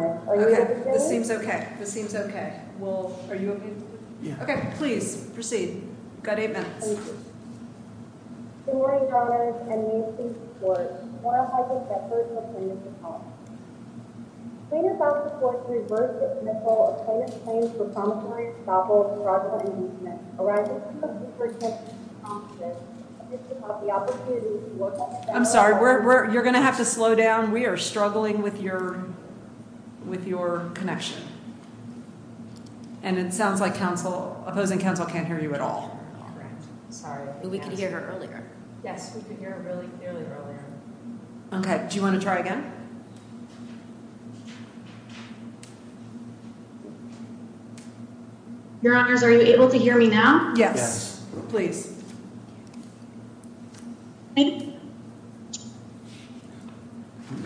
Okay, this seems okay. This seems okay. Well, are you okay? Okay, please proceed. Got a minute. I'm sorry, we're you're gonna have to slow down. We are struggling with your Connection. And it sounds like Council opposing Council can't hear you at all. Sorry, we could hear her earlier. Yes, we could hear it really early. Okay. Do you want to try again? Your Honors, are you able to hear me now? Yes, please.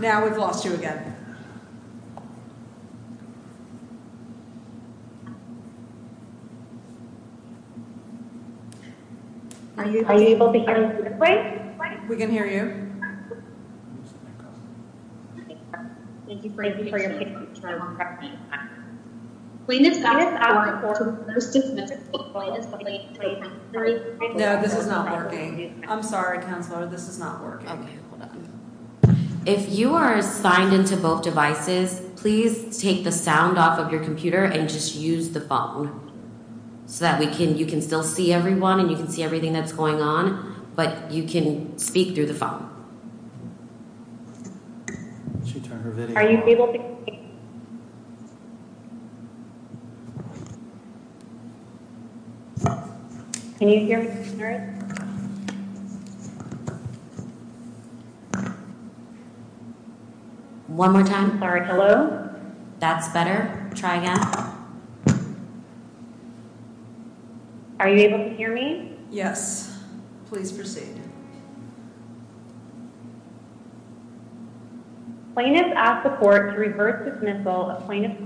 Now we've lost you again. Are you able to hear me? We can hear you. No, this is not working. I'm sorry, this is not working. If you are signed into both devices, please take the sound off of your computer and just use the phone. So that we can you can still see everyone and you can see everything that's going on, but you can speak through the phone. Are you able to hear me? Are you able to hear me? One more time. Sorry. Hello. That's better. Try again. Are you able to hear me? Yes, please proceed. Plaintiff asked the court to reverse dismissal of plaintiff.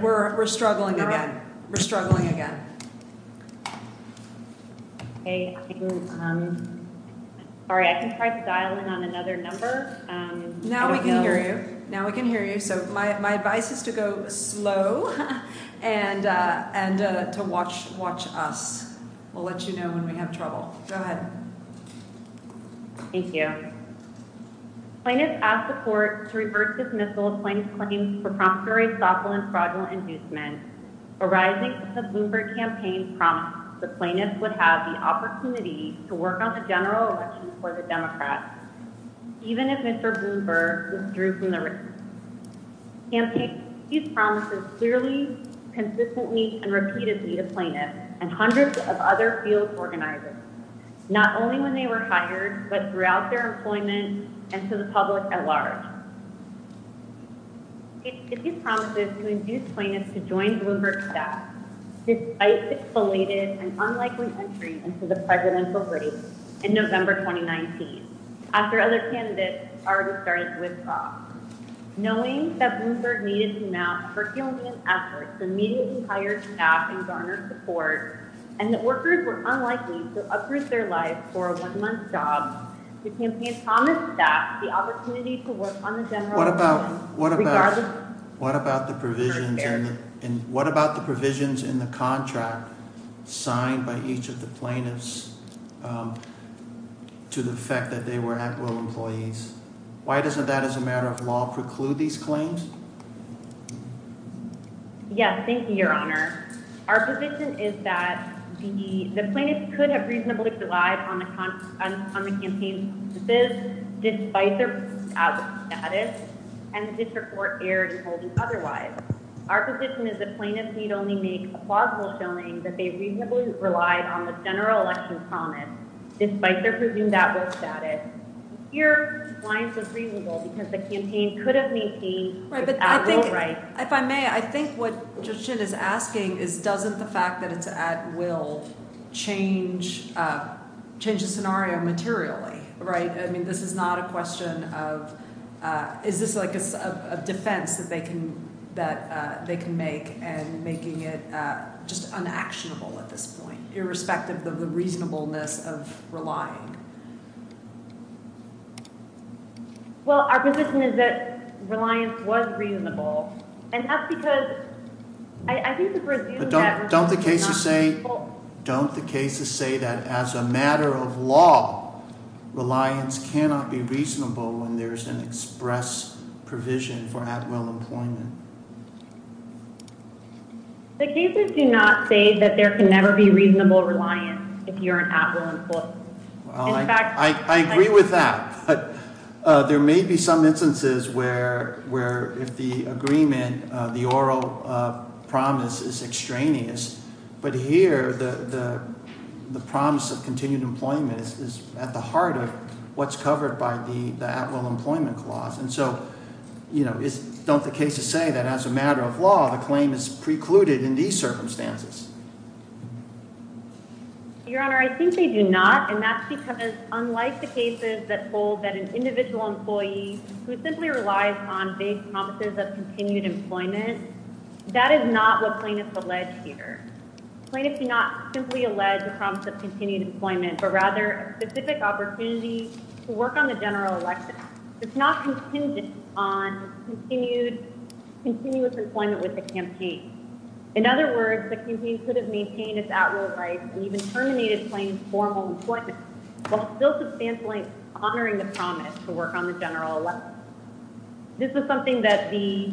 We're struggling again. We're struggling again. Sorry, I can try styling on another number. Now we can hear you. Now we can hear you. So my advice is to go slow and and to watch watch us. We'll let you know when we have trouble. Go ahead. Thank you. Plaintiff asked the court to reverse dismissal of plaintiff's claims for promptory, thoughtful, and fraudulent inducement arising from the Bloomberg campaign's promise that plaintiffs would have the opportunity to work on the general election for the Democrats. Even if Mr. Bloomberg withdrew from the race campaign, these promises clearly consistently and repeatedly to plaintiffs and hundreds of other field organizers. Not only when they were hired, but throughout their employment and to the public at large. It promises to induce plaintiffs to join Bloomberg staff, despite the belated and unlikely entry into the presidential race in November 2019. After other candidates already started with Bob, knowing that Bloomberg needed to mount percolating efforts to immediately hire staff and garner support and that workers were unlikely to uproot their lives for a one month job. The campaign promised that the opportunity to work on the general. What about what about what about the provisions? And what about the provisions in the contract signed by each of the plaintiffs to the fact that they were at will employees? Why doesn't that as a matter of law preclude these claims? Yes. Thank you, Your Honor. Our position is that the plaintiff could have reasonably relied on the on the campaign. This is despite their status. And this report aired and told me otherwise. Our position is that plaintiffs need only make a plausible showing that they reasonably relied on the general election promise, despite their presumed at will status. Your lines are reasonable because the campaign could have maintained. Right. Right. If I may, I think what Justin is asking is, doesn't the fact that it's at will change, change the scenario materially? Right. I mean, this is not a question of is this like a defense that they can that they can make and making it just unactionable at this point, irrespective of the reasonableness of relying. Well, our position is that reliance was reasonable. And that's because I think the don't the cases say, don't the cases say that as a matter of law, reliance cannot be reasonable when there is an express provision for at will employment? The cases do not say that there can never be reasonable reliance. I agree with that, but there may be some instances where where if the agreement, the oral promise is extraneous. But here, the promise of continued employment is at the heart of what's covered by the at will employment clause. And so, you know, it's not the case to say that as a matter of law, the claim is precluded in these circumstances. Your Honor, I think they do not. And that's because, unlike the cases that hold that an individual employee who simply relies on vague promises of continued employment, that is not what plaintiffs allege here. Plaintiffs do not simply allege the promise of continued employment, but rather a specific opportunity to work on the general election. It's not contingent on continued continuous employment with the campaign. In other words, the campaign could have maintained its at will rights and even terminated plain formal employment while still substantially honoring the promise to work on the general election. This is something that the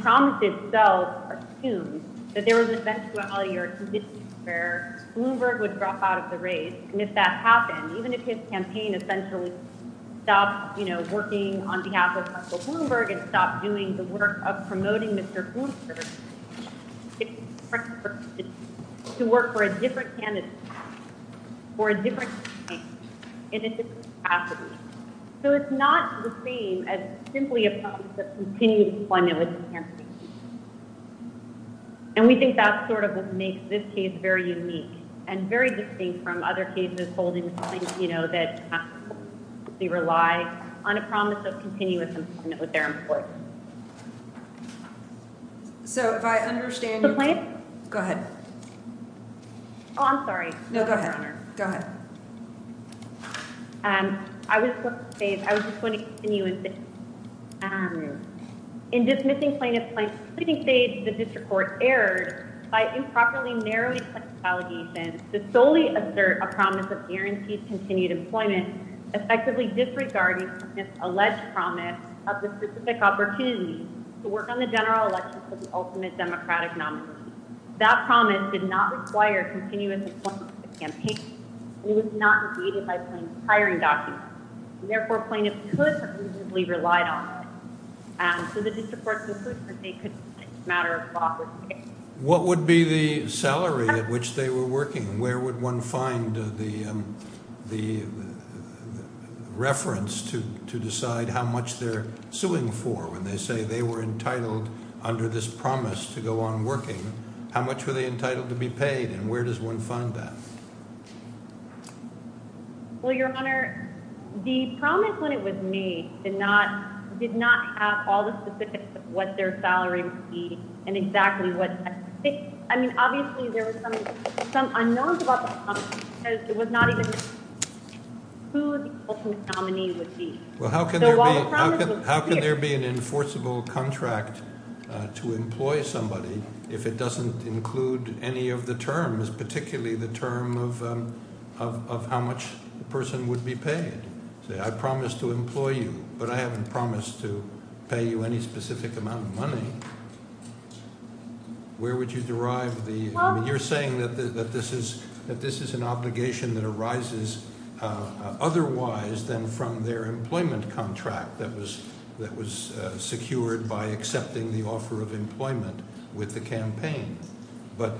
promise itself assumes that there was an eventuality or a condition where Bloomberg would drop out of the race. And if that happened, even if his campaign essentially stopped, you know, working on behalf of Michael Bloomberg and stopped doing the work of promoting Mr. Bloomberg, it's to work for a different candidate for a different campaign in a different capacity. So it's not the same as simply a promise of continued employment with the campaign. And we think that sort of makes this case very unique and very distinct from other cases holding, you know, that they rely on a promise of continuous employment with their employees. So if I understand the plan, go ahead. I'm sorry. No, go ahead. Go ahead. And I would say I was just going to continue. And in dismissing plaintiffs, I think they the district court erred by improperly narrowing allegations to solely assert a promise of guaranteed continued employment, effectively disregarding this alleged promise of the specific opportunity to work on the general election. That promise did not require continuous employment of the campaign. It was not negated by hiring documents. Therefore, plaintiffs could have reasonably relied on it. So the district court could say it's a matter of lawful escape. What would be the salary at which they were working? Where would one find the reference to decide how much they're suing for when they say they were entitled under this promise to go on working? How much were they entitled to be paid? And where does one find that? Well, Your Honor, the promise when it was made did not have all the specifics of what their salary would be and exactly what. I mean, obviously, there were some unknowns about the promise because it was not even who the ultimate nominee would be. Well, how can there be an enforceable contract to employ somebody if it doesn't include any of the terms, particularly the term of how much the person would be paid? Say I promise to employ you, but I haven't promised to pay you any specific amount of money. Where would you derive the – you're saying that this is an obligation that arises otherwise than from their employment contract that was secured by accepting the offer of employment with the campaign. But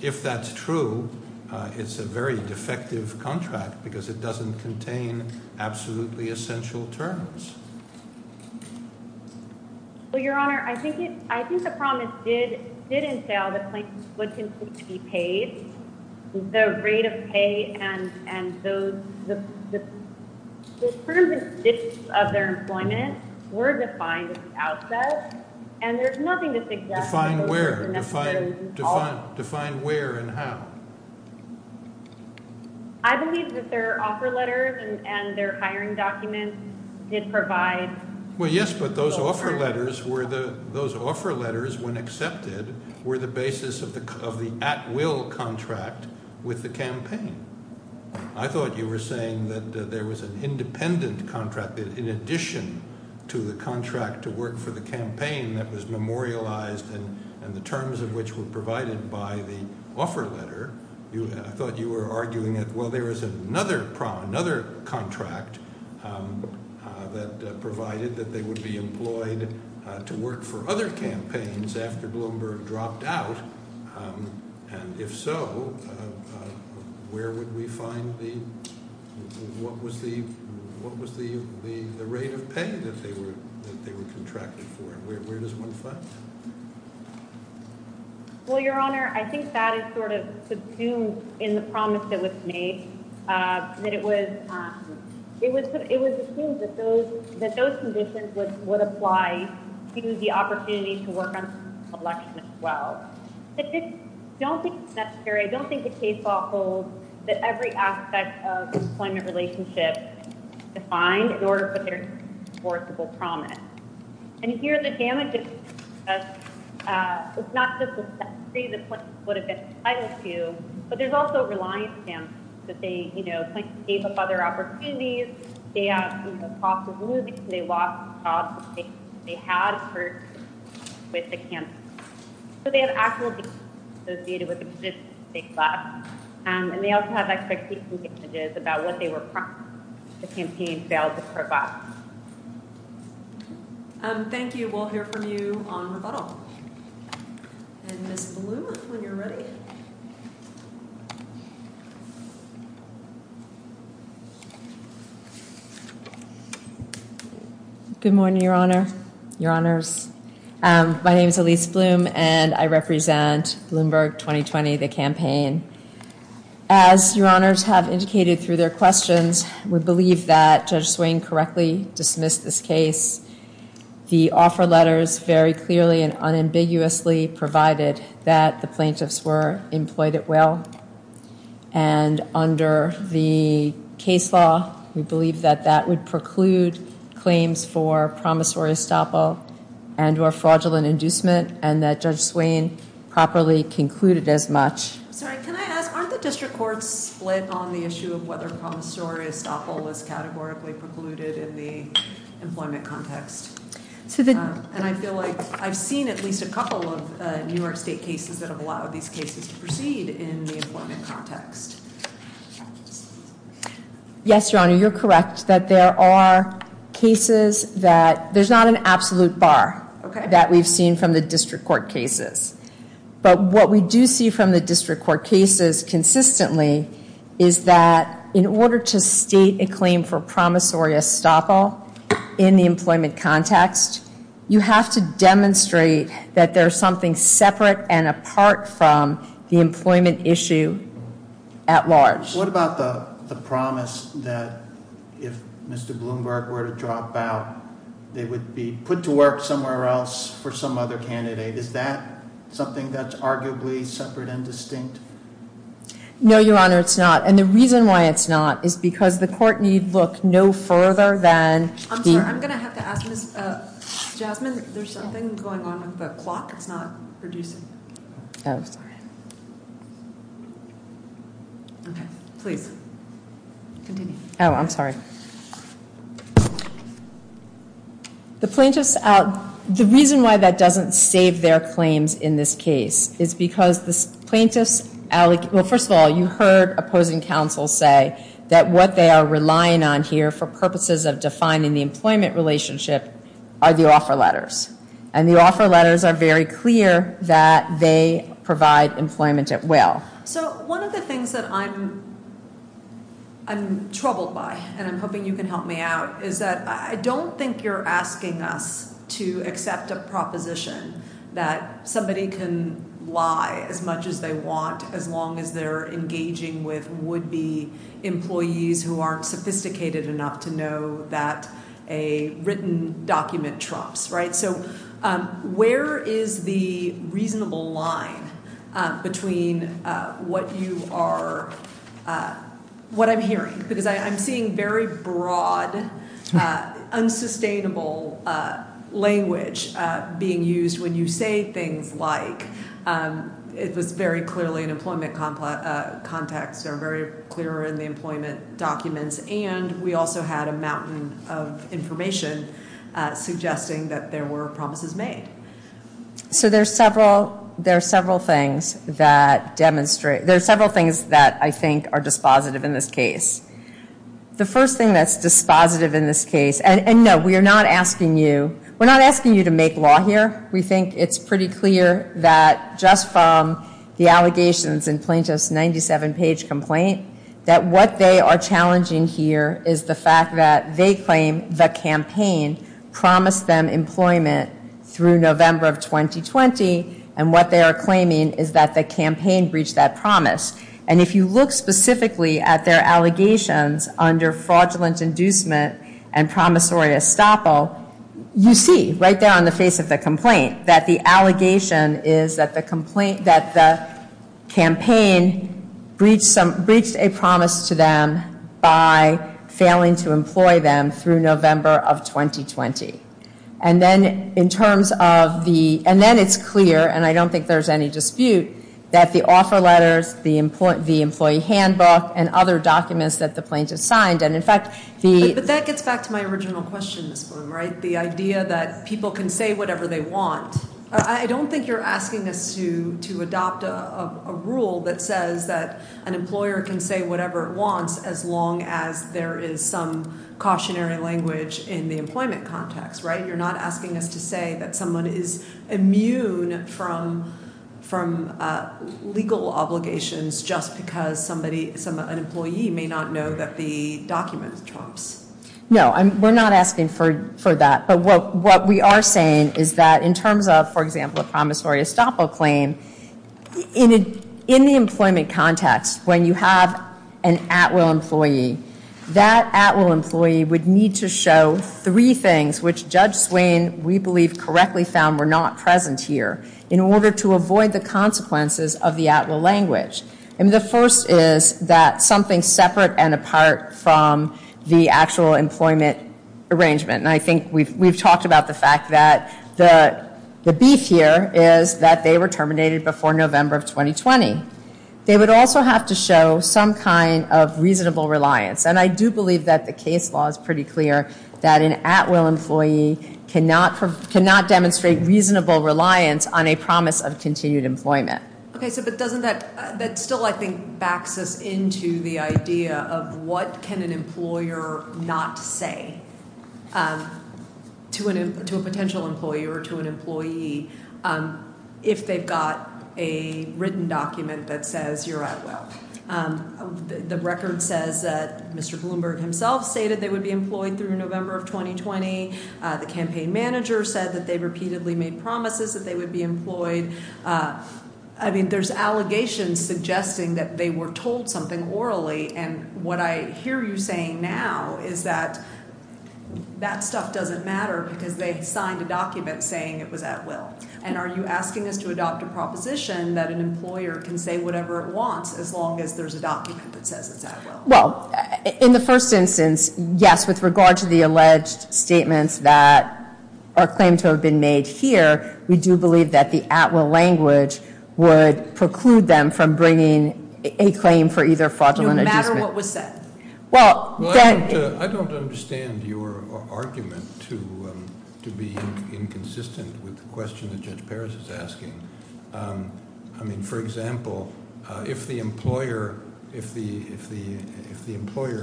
if that's true, it's a very defective contract because it doesn't contain absolutely essential terms. Well, Your Honor, I think the promise did entail the claimants would continue to be paid. The rate of pay and the terms and conditions of their employment were defined at the outset, and there's nothing to suggest – Define where. Define where and how. I believe that their offer letters and their hiring documents did provide – Well, yes, but those offer letters were the – those offer letters, when accepted, were the basis of the at-will contract with the campaign. I thought you were saying that there was an independent contract in addition to the contract to work for the campaign that was memorialized and the terms of which were provided by the offer letter. I thought you were arguing that, well, there was another contract that provided that they would be employed to work for other campaigns after Bloomberg dropped out. And if so, where would we find the – what was the rate of pay that they were contracted for? Where does one find that? Well, Your Honor, I think that is sort of subsumed in the promise that was made, that it was assumed that those conditions would apply to the opportunity to work on election as well. I don't think it's necessary. I don't think the case law holds that every aspect of employment relationship is defined in order for there to be an enforceable promise. And here, the damage is not just the set free that Clinton would have been entitled to, but there's also a reliance stance that they, you know, Clinton gave up other opportunities. They have, you know, costs of moving. They lost jobs. They had a purchase with the campaign. So they have actual damage associated with the position they took last. And they also have expectation damages about what they were promised if the campaign failed to prove up. Thank you. We'll hear from you on rebuttal. And Ms. Bloom, when you're ready. Good morning, Your Honor, Your Honors. My name is Elise Bloom, and I represent Bloomberg 2020, the campaign. As Your Honors have indicated through their questions, we believe that Judge Swain correctly dismissed this case. The offer letters very clearly and unambiguously provided that the plaintiffs were employed at well. And under the case law, we believe that that would preclude claims for promissory estoppel and or fraudulent inducement, and that Judge Swain properly concluded as much. Sorry, can I ask, aren't the district courts split on the issue of whether promissory estoppel is categorically precluded in the employment context? And I feel like I've seen at least a couple of New York State cases that have allowed these cases to proceed in the employment context. Yes, Your Honor, you're correct that there are cases that there's not an absolute bar that we've seen from the district court cases. But what we do see from the district court cases consistently is that in order to state a claim for promissory estoppel in the employment context, you have to demonstrate that there's something separate and apart from the employment issue at large. What about the promise that if Mr. Bloomberg were to drop out, they would be put to work somewhere else for some other candidate? Is that something that's arguably separate and distinct? No, Your Honor, it's not. And the reason why it's not is because the court need look no further than- I'm sorry, I'm going to have to ask Ms. Jasmine, there's something going on with the clock. It's not reducing. Oh, sorry. Okay, please, continue. Oh, I'm sorry. The plaintiffs- the reason why that doesn't save their claims in this case is because the plaintiffs- well, first of all, you heard opposing counsel say that what they are relying on here for purposes of defining the employment relationship are the offer letters. And the offer letters are very clear that they provide employment at will. So one of the things that I'm troubled by, and I'm hoping you can help me out, is that I don't think you're asking us to accept a proposition that somebody can lie as much as they want as long as they're engaging with would-be employees who aren't sophisticated enough to know that a written document trumps. So where is the reasonable line between what you are- what I'm hearing? Because I'm seeing very broad, unsustainable language being used when you say things like, it was very clearly an employment context or very clear in the employment documents, and we also had a mountain of information suggesting that there were promises made. So there are several things that demonstrate- there are several things that I think are dispositive in this case. The first thing that's dispositive in this case- and no, we are not asking you- we're not asking you to make law here. We think it's pretty clear that just from the allegations in Plaintiff's 97-page complaint that what they are challenging here is the fact that they claim the campaign promised them employment through November of 2020, and what they are claiming is that the campaign breached that promise. And if you look specifically at their allegations under fraudulent inducement and promissory estoppel, you see right there on the face of the complaint that the allegation is that the campaign breached a promise to them by failing to employ them through November of 2020. And then in terms of the- and then it's clear, and I don't think there's any dispute, that the offer letters, the employee handbook, and other documents that the plaintiff signed, and in fact the- the idea that people can say whatever they want. I don't think you're asking us to adopt a rule that says that an employer can say whatever it wants as long as there is some cautionary language in the employment context, right? You're not asking us to say that someone is immune from legal obligations just because somebody- an employee may not know that the document trumps. No, we're not asking for that. But what we are saying is that in terms of, for example, a promissory estoppel claim, in the employment context, when you have an at-will employee, that at-will employee would need to show three things which Judge Swain, we believe, correctly found were not present here in order to avoid the consequences of the at-will language. And the first is that something separate and apart from the actual employment arrangement. And I think we've talked about the fact that the beef here is that they were terminated before November of 2020. They would also have to show some kind of reasonable reliance. And I do believe that the case law is pretty clear, that an at-will employee cannot demonstrate reasonable reliance on a promise of continued employment. Okay, so but doesn't that- that still, I think, backs us into the idea of what can an employer not say to a potential employer or to an employee if they've got a written document that says you're at-will? The record says that Mr. Bloomberg himself stated they would be employed through November of 2020. The campaign manager said that they repeatedly made promises that they would be employed. I mean, there's allegations suggesting that they were told something orally, and what I hear you saying now is that that stuff doesn't matter because they signed a document saying it was at-will. And are you asking us to adopt a proposition that an employer can say whatever it wants as long as there's a document that says it's at-will? Well, in the first instance, yes, with regard to the alleged statements that are claimed to have been made here, we do believe that the at-will language would preclude them from bringing a claim for either fraudulent or- No matter what was said. Well- I don't understand your argument to be inconsistent with the question that Judge Paris is asking. I mean, for example, if the employer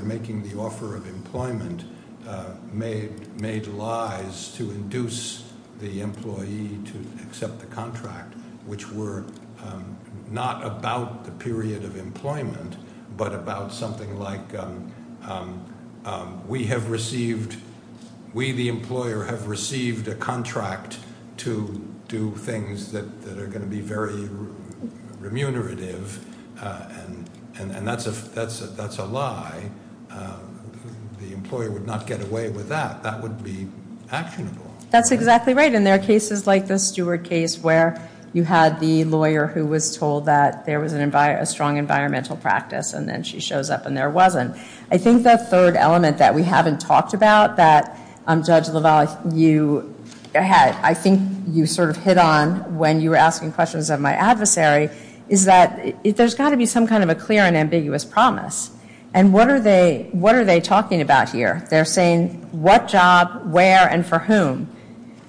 making the offer of employment made lies to induce the employee to accept the contract, which were not about the period of employment but about something like, we, the employer, have received a contract to do things that are going to be very remunerative, and that's a lie, the employer would not get away with that. That would be actionable. That's exactly right. And there are cases like the Stewart case where you had the lawyer who was told that there was a strong environmental practice and then she shows up and there wasn't. I think the third element that we haven't talked about that, Judge LaValle, you had, I think you sort of hit on when you were asking questions of my adversary, is that there's got to be some kind of a clear and ambiguous promise. And what are they talking about here? They're saying what job, where, and for whom.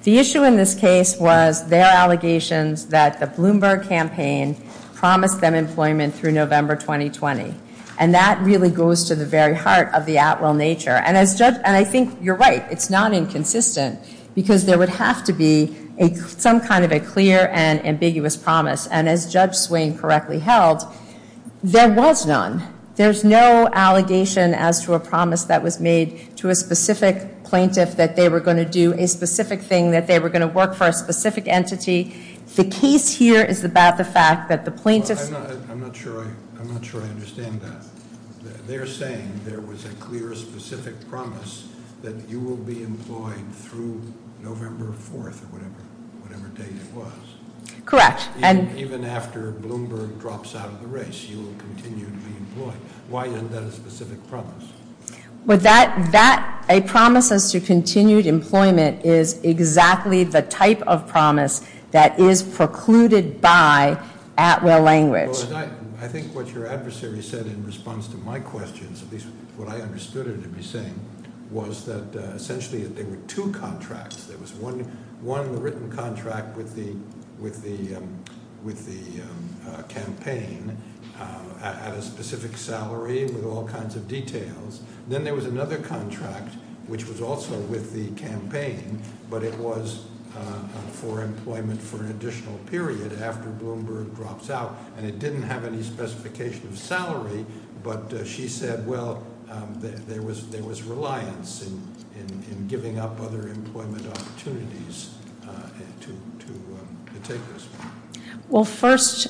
The issue in this case was their allegations that the Bloomberg campaign promised them employment through November 2020. And that really goes to the very heart of the Atwell nature. And I think you're right. It's not inconsistent because there would have to be some kind of a clear and ambiguous promise. And as Judge Swain correctly held, there was none. There's no allegation as to a promise that was made to a specific plaintiff that they were going to do a specific thing, that they were going to work for a specific entity. The case here is about the fact that the plaintiffs- I'm not sure I understand that. They're saying there was a clear, specific promise that you will be employed through November 4th or whatever date it was. Correct. Even after Bloomberg drops out of the race, you will continue to be employed. Why isn't that a specific promise? A promise as to continued employment is exactly the type of promise that is precluded by Atwell language. I think what your adversary said in response to my questions, at least what I understood her to be saying, was that essentially there were two contracts. There was one written contract with the campaign at a specific salary with all kinds of details. Then there was another contract, which was also with the campaign, but it was for employment for an additional period after Bloomberg drops out. It didn't have any specification of salary, but she said, well, there was reliance in giving up other employment opportunities to the takers. Well, first,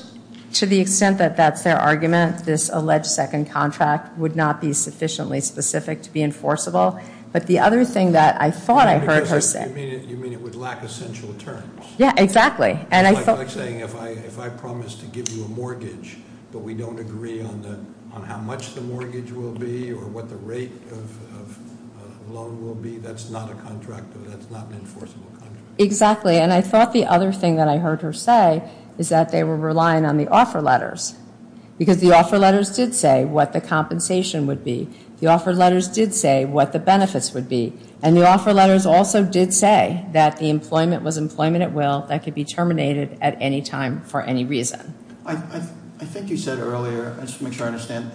to the extent that that's their argument, this alleged second contract would not be sufficiently specific to be enforceable. But the other thing that I thought I heard her say- You mean it would lack essential terms? Yeah, exactly. It's like saying if I promise to give you a mortgage, but we don't agree on how much the mortgage will be or what the rate of the loan will be, that's not an enforceable contract. Exactly, and I thought the other thing that I heard her say is that they were relying on the offer letters. Because the offer letters did say what the compensation would be. The offer letters did say what the benefits would be. And the offer letters also did say that the employment was employment at will, that could be terminated at any time for any reason. I think you said earlier, just to make sure I understand,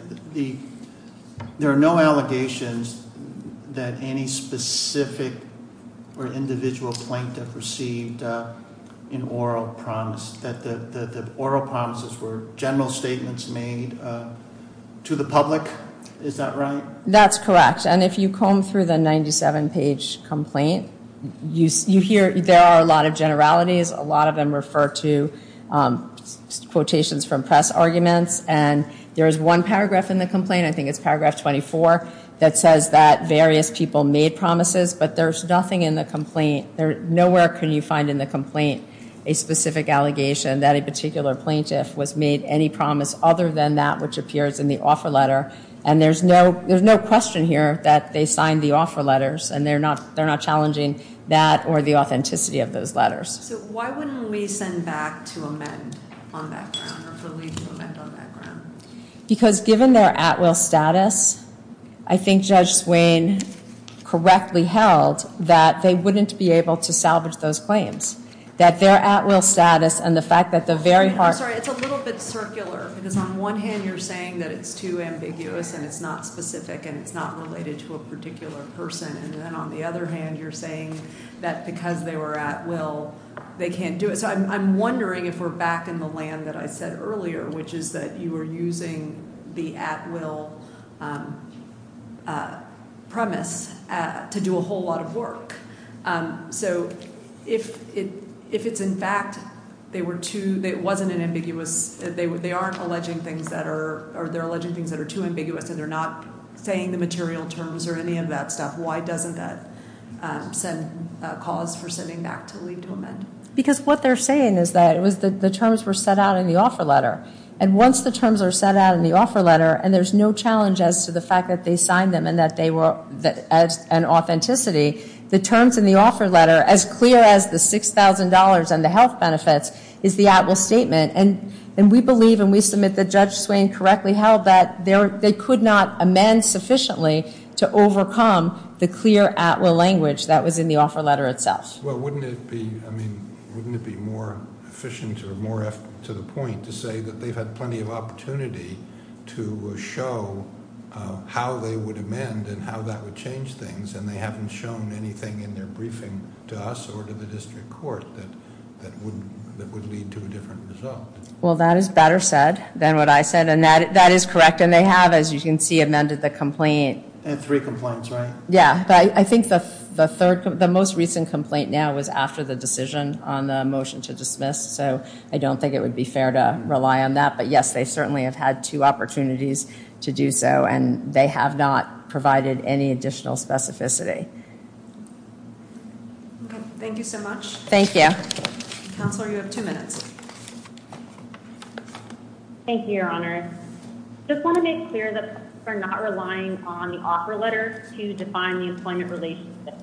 there are no allegations that any specific or individual plaintiff received an oral promise, that the oral promises were general statements made to the public. Is that right? That's correct, and if you comb through the 97-page complaint, you hear there are a lot of generalities. A lot of them refer to quotations from press arguments, and there is one paragraph in the complaint, I think it's paragraph 24, that says that various people made promises, but there's nothing in the complaint. Nowhere can you find in the complaint a specific allegation that a particular plaintiff was made any promise other than that which appears in the offer letter. And there's no question here that they signed the offer letters, and they're not challenging that or the authenticity of those letters. So why wouldn't we send back to amend on that ground, or to leave to amend on that ground? Because given their at will status, I think Judge Swain correctly held that they wouldn't be able to salvage those claims. That their at will status and the fact that the very heart I'm sorry, it's a little bit circular, because on one hand you're saying that it's too ambiguous and it's not specific and it's not related to a particular person, and then on the other hand you're saying that because they were at will, they can't do it. So I'm wondering if we're back in the land that I said earlier, which is that you were using the at will premise to do a whole lot of work. So if it's in fact they were too, it wasn't an ambiguous, they aren't alleging things that are, or they're alleging things that are too ambiguous and they're not saying the material terms or any of that stuff, why doesn't that cause for sending back to leave to amend? Because what they're saying is that the terms were set out in the offer letter. And once the terms are set out in the offer letter and there's no challenge as to the fact that they signed them and that they were an authenticity, the terms in the offer letter, as clear as the $6,000 and the health benefits, is the at will statement. And we believe and we submit that Judge Swain correctly held that they could not amend sufficiently to overcome the clear at will language that was in the offer letter itself. Well, wouldn't it be more efficient or more to the point to say that they've had plenty of opportunity to show how they would amend and how that would change things and they haven't shown anything in their briefing to us or to the district court that would lead to a different result? Well, that is better said than what I said and that is correct. And they have, as you can see, amended the complaint. And three complaints, right? Yeah. But I think the most recent complaint now was after the decision on the motion to dismiss. So I don't think it would be fair to rely on that. But, yes, they certainly have had two opportunities to do so and they have not provided any additional specificity. Okay. Thank you so much. Thank you. Counselor, you have two minutes. Thank you, Your Honor. I just want to make clear that we're not relying on the offer letter to define the employment relationship.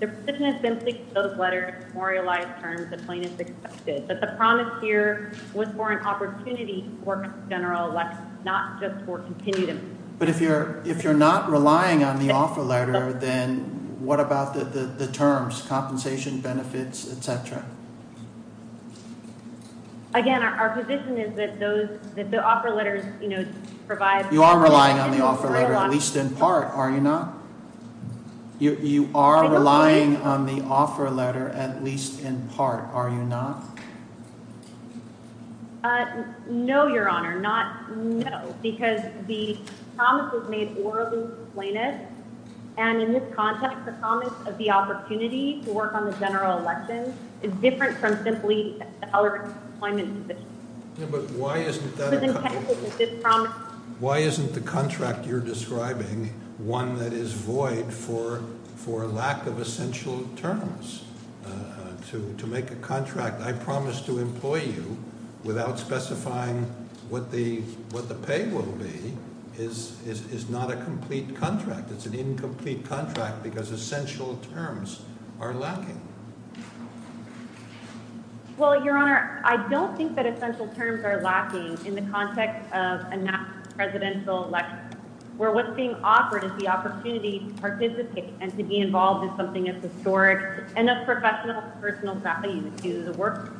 The position has been that those letters memorialize terms the plaintiff accepted. But the promise here was for an opportunity for a general election, not just for continued employment. But if you're not relying on the offer letter, then what about the terms, compensation, benefits, et cetera? Again, our position is that the offer letters provide You are relying on the offer letter, at least in part, are you not? You are relying on the offer letter, at least in part, are you not? No, Your Honor, not no. Because the promise was made orally to the plaintiff. And in this context, the promise of the opportunity to work on the general election is different from simply a color employment position. Yeah, but why isn't that a contract? Why isn't the contract you're describing one that is void for lack of essential terms to make a contract? I promise to employ you without specifying what the pay will be is not a complete contract. It's an incomplete contract because essential terms are lacking. Well, Your Honor, I don't think that essential terms are lacking in the context of a national presidential election. Where what's being offered is the opportunity to participate and to be involved in something that's historic and of professional and personal value to the workers.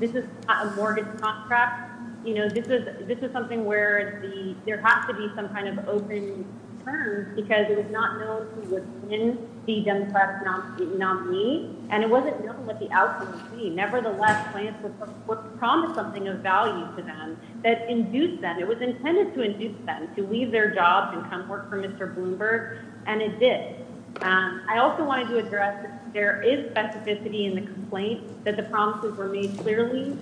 This is not a mortgage contract. This is something where there has to be some kind of open terms because it was not known who was in the Democratic nominee. And it wasn't known what the outcome would be. Nevertheless, the plaintiff promised something of value to them that induced them. It was intended to induce them to leave their jobs and come work for Mr. Bloomberg. And it did. I also wanted to address that there is specificity in the complaint that the promises were made clearly.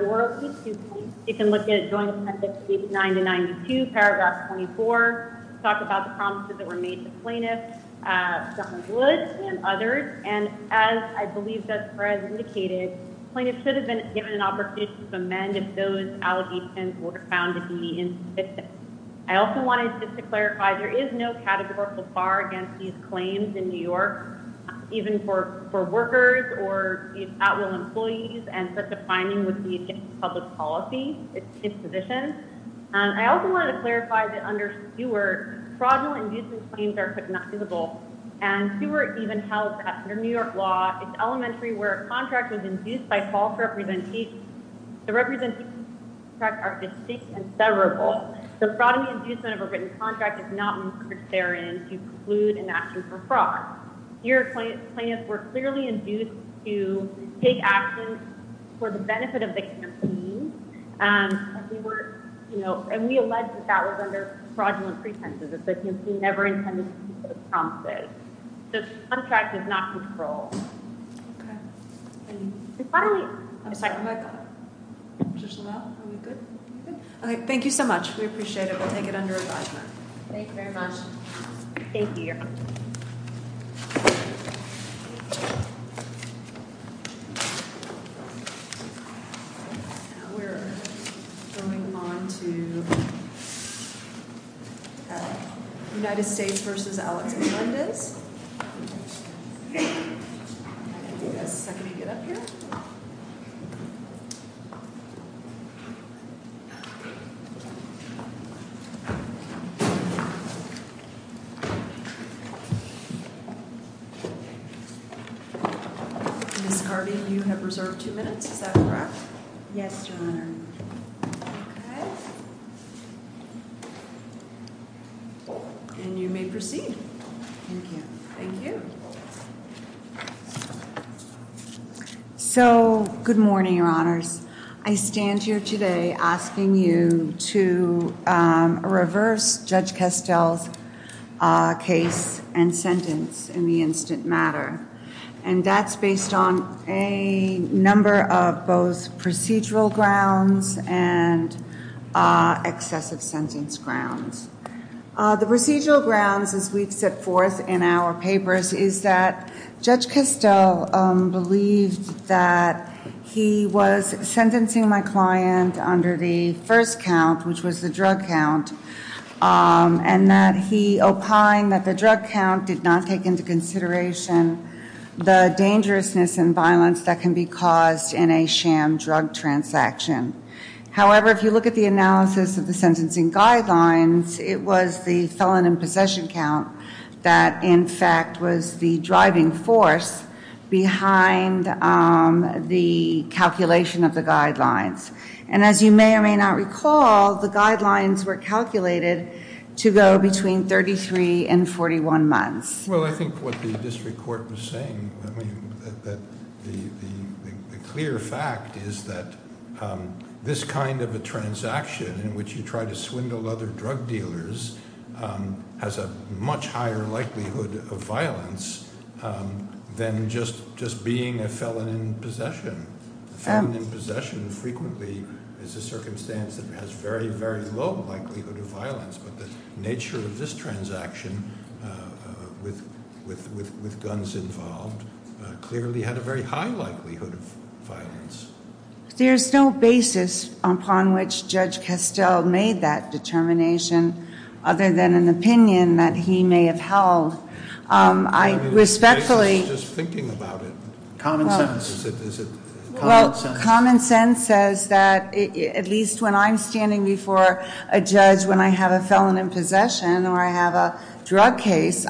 Orally to the plaintiff. You can look at Joint Appendix page 9 to 92, paragraph 24. Talk about the promises that were made to the plaintiff, John Wood, and others. And as I believe Judge Perez indicated, the plaintiff should have been given an opportunity to amend if those allegations were found to be insufficient. I also wanted just to clarify, there is no categorical bar against these claims in New York, even for workers or at-will employees. And such a finding would be against public policy. It's insufficient. I also wanted to clarify that under Stewart, fraudulent inducement claims are recognizable. And Stewart even held that under New York law, it's elementary where a contract was induced by false representation. The representations are distinct and severable. The fraudulent inducement of a written contract is not necessary to conclude an action for fraud. Your plaintiffs were clearly induced to take action for the benefit of the campaign. And we allege that that was under fraudulent pretenses. The campaign never intended to keep those promises. The contract is not controlled. Okay. Okay, thank you so much. We appreciate it. We'll take it under review. Thank you very much. Thank you. We're moving on to United States v. Alex Hernandez. Yes, can you get up here? Ms. Harvey, you have reserved two minutes, is that correct? Yes, Your Honor. Okay. And you may proceed. Thank you. Thank you. So, good morning, Your Honors. I stand here today asking you to reverse Judge Kestel's case and sentence in the instant matter. And that's based on a number of both procedural grounds and excessive sentence grounds. The procedural grounds, as we've set forth in our papers, is that Judge Kestel believed that he was sentencing my client under the first count, which was the drug count, and that he opined that the drug count did not take into consideration the dangerousness and violence that can be caused in a sham drug transaction. However, if you look at the analysis of the sentencing guidelines, it was the felon in possession count that, in fact, was the driving force behind the calculation of the guidelines. And as you may or may not recall, the guidelines were calculated to go between 33 and 41 months. Well, I think what the district court was saying, I mean, that the clear fact is that this kind of a transaction, in which you try to swindle other drug dealers, has a much higher likelihood of violence than just being a felon in possession. A felon in possession frequently is a circumstance that has very, very low likelihood of violence. But the nature of this transaction with guns involved clearly had a very high likelihood of violence. There's no basis upon which Judge Kestel made that determination, other than an opinion that he may have held. I respectfully- I was just thinking about it. Common sense. Is it common sense? Common sense says that, at least when I'm standing before a judge when I have a felon in possession or I have a drug case,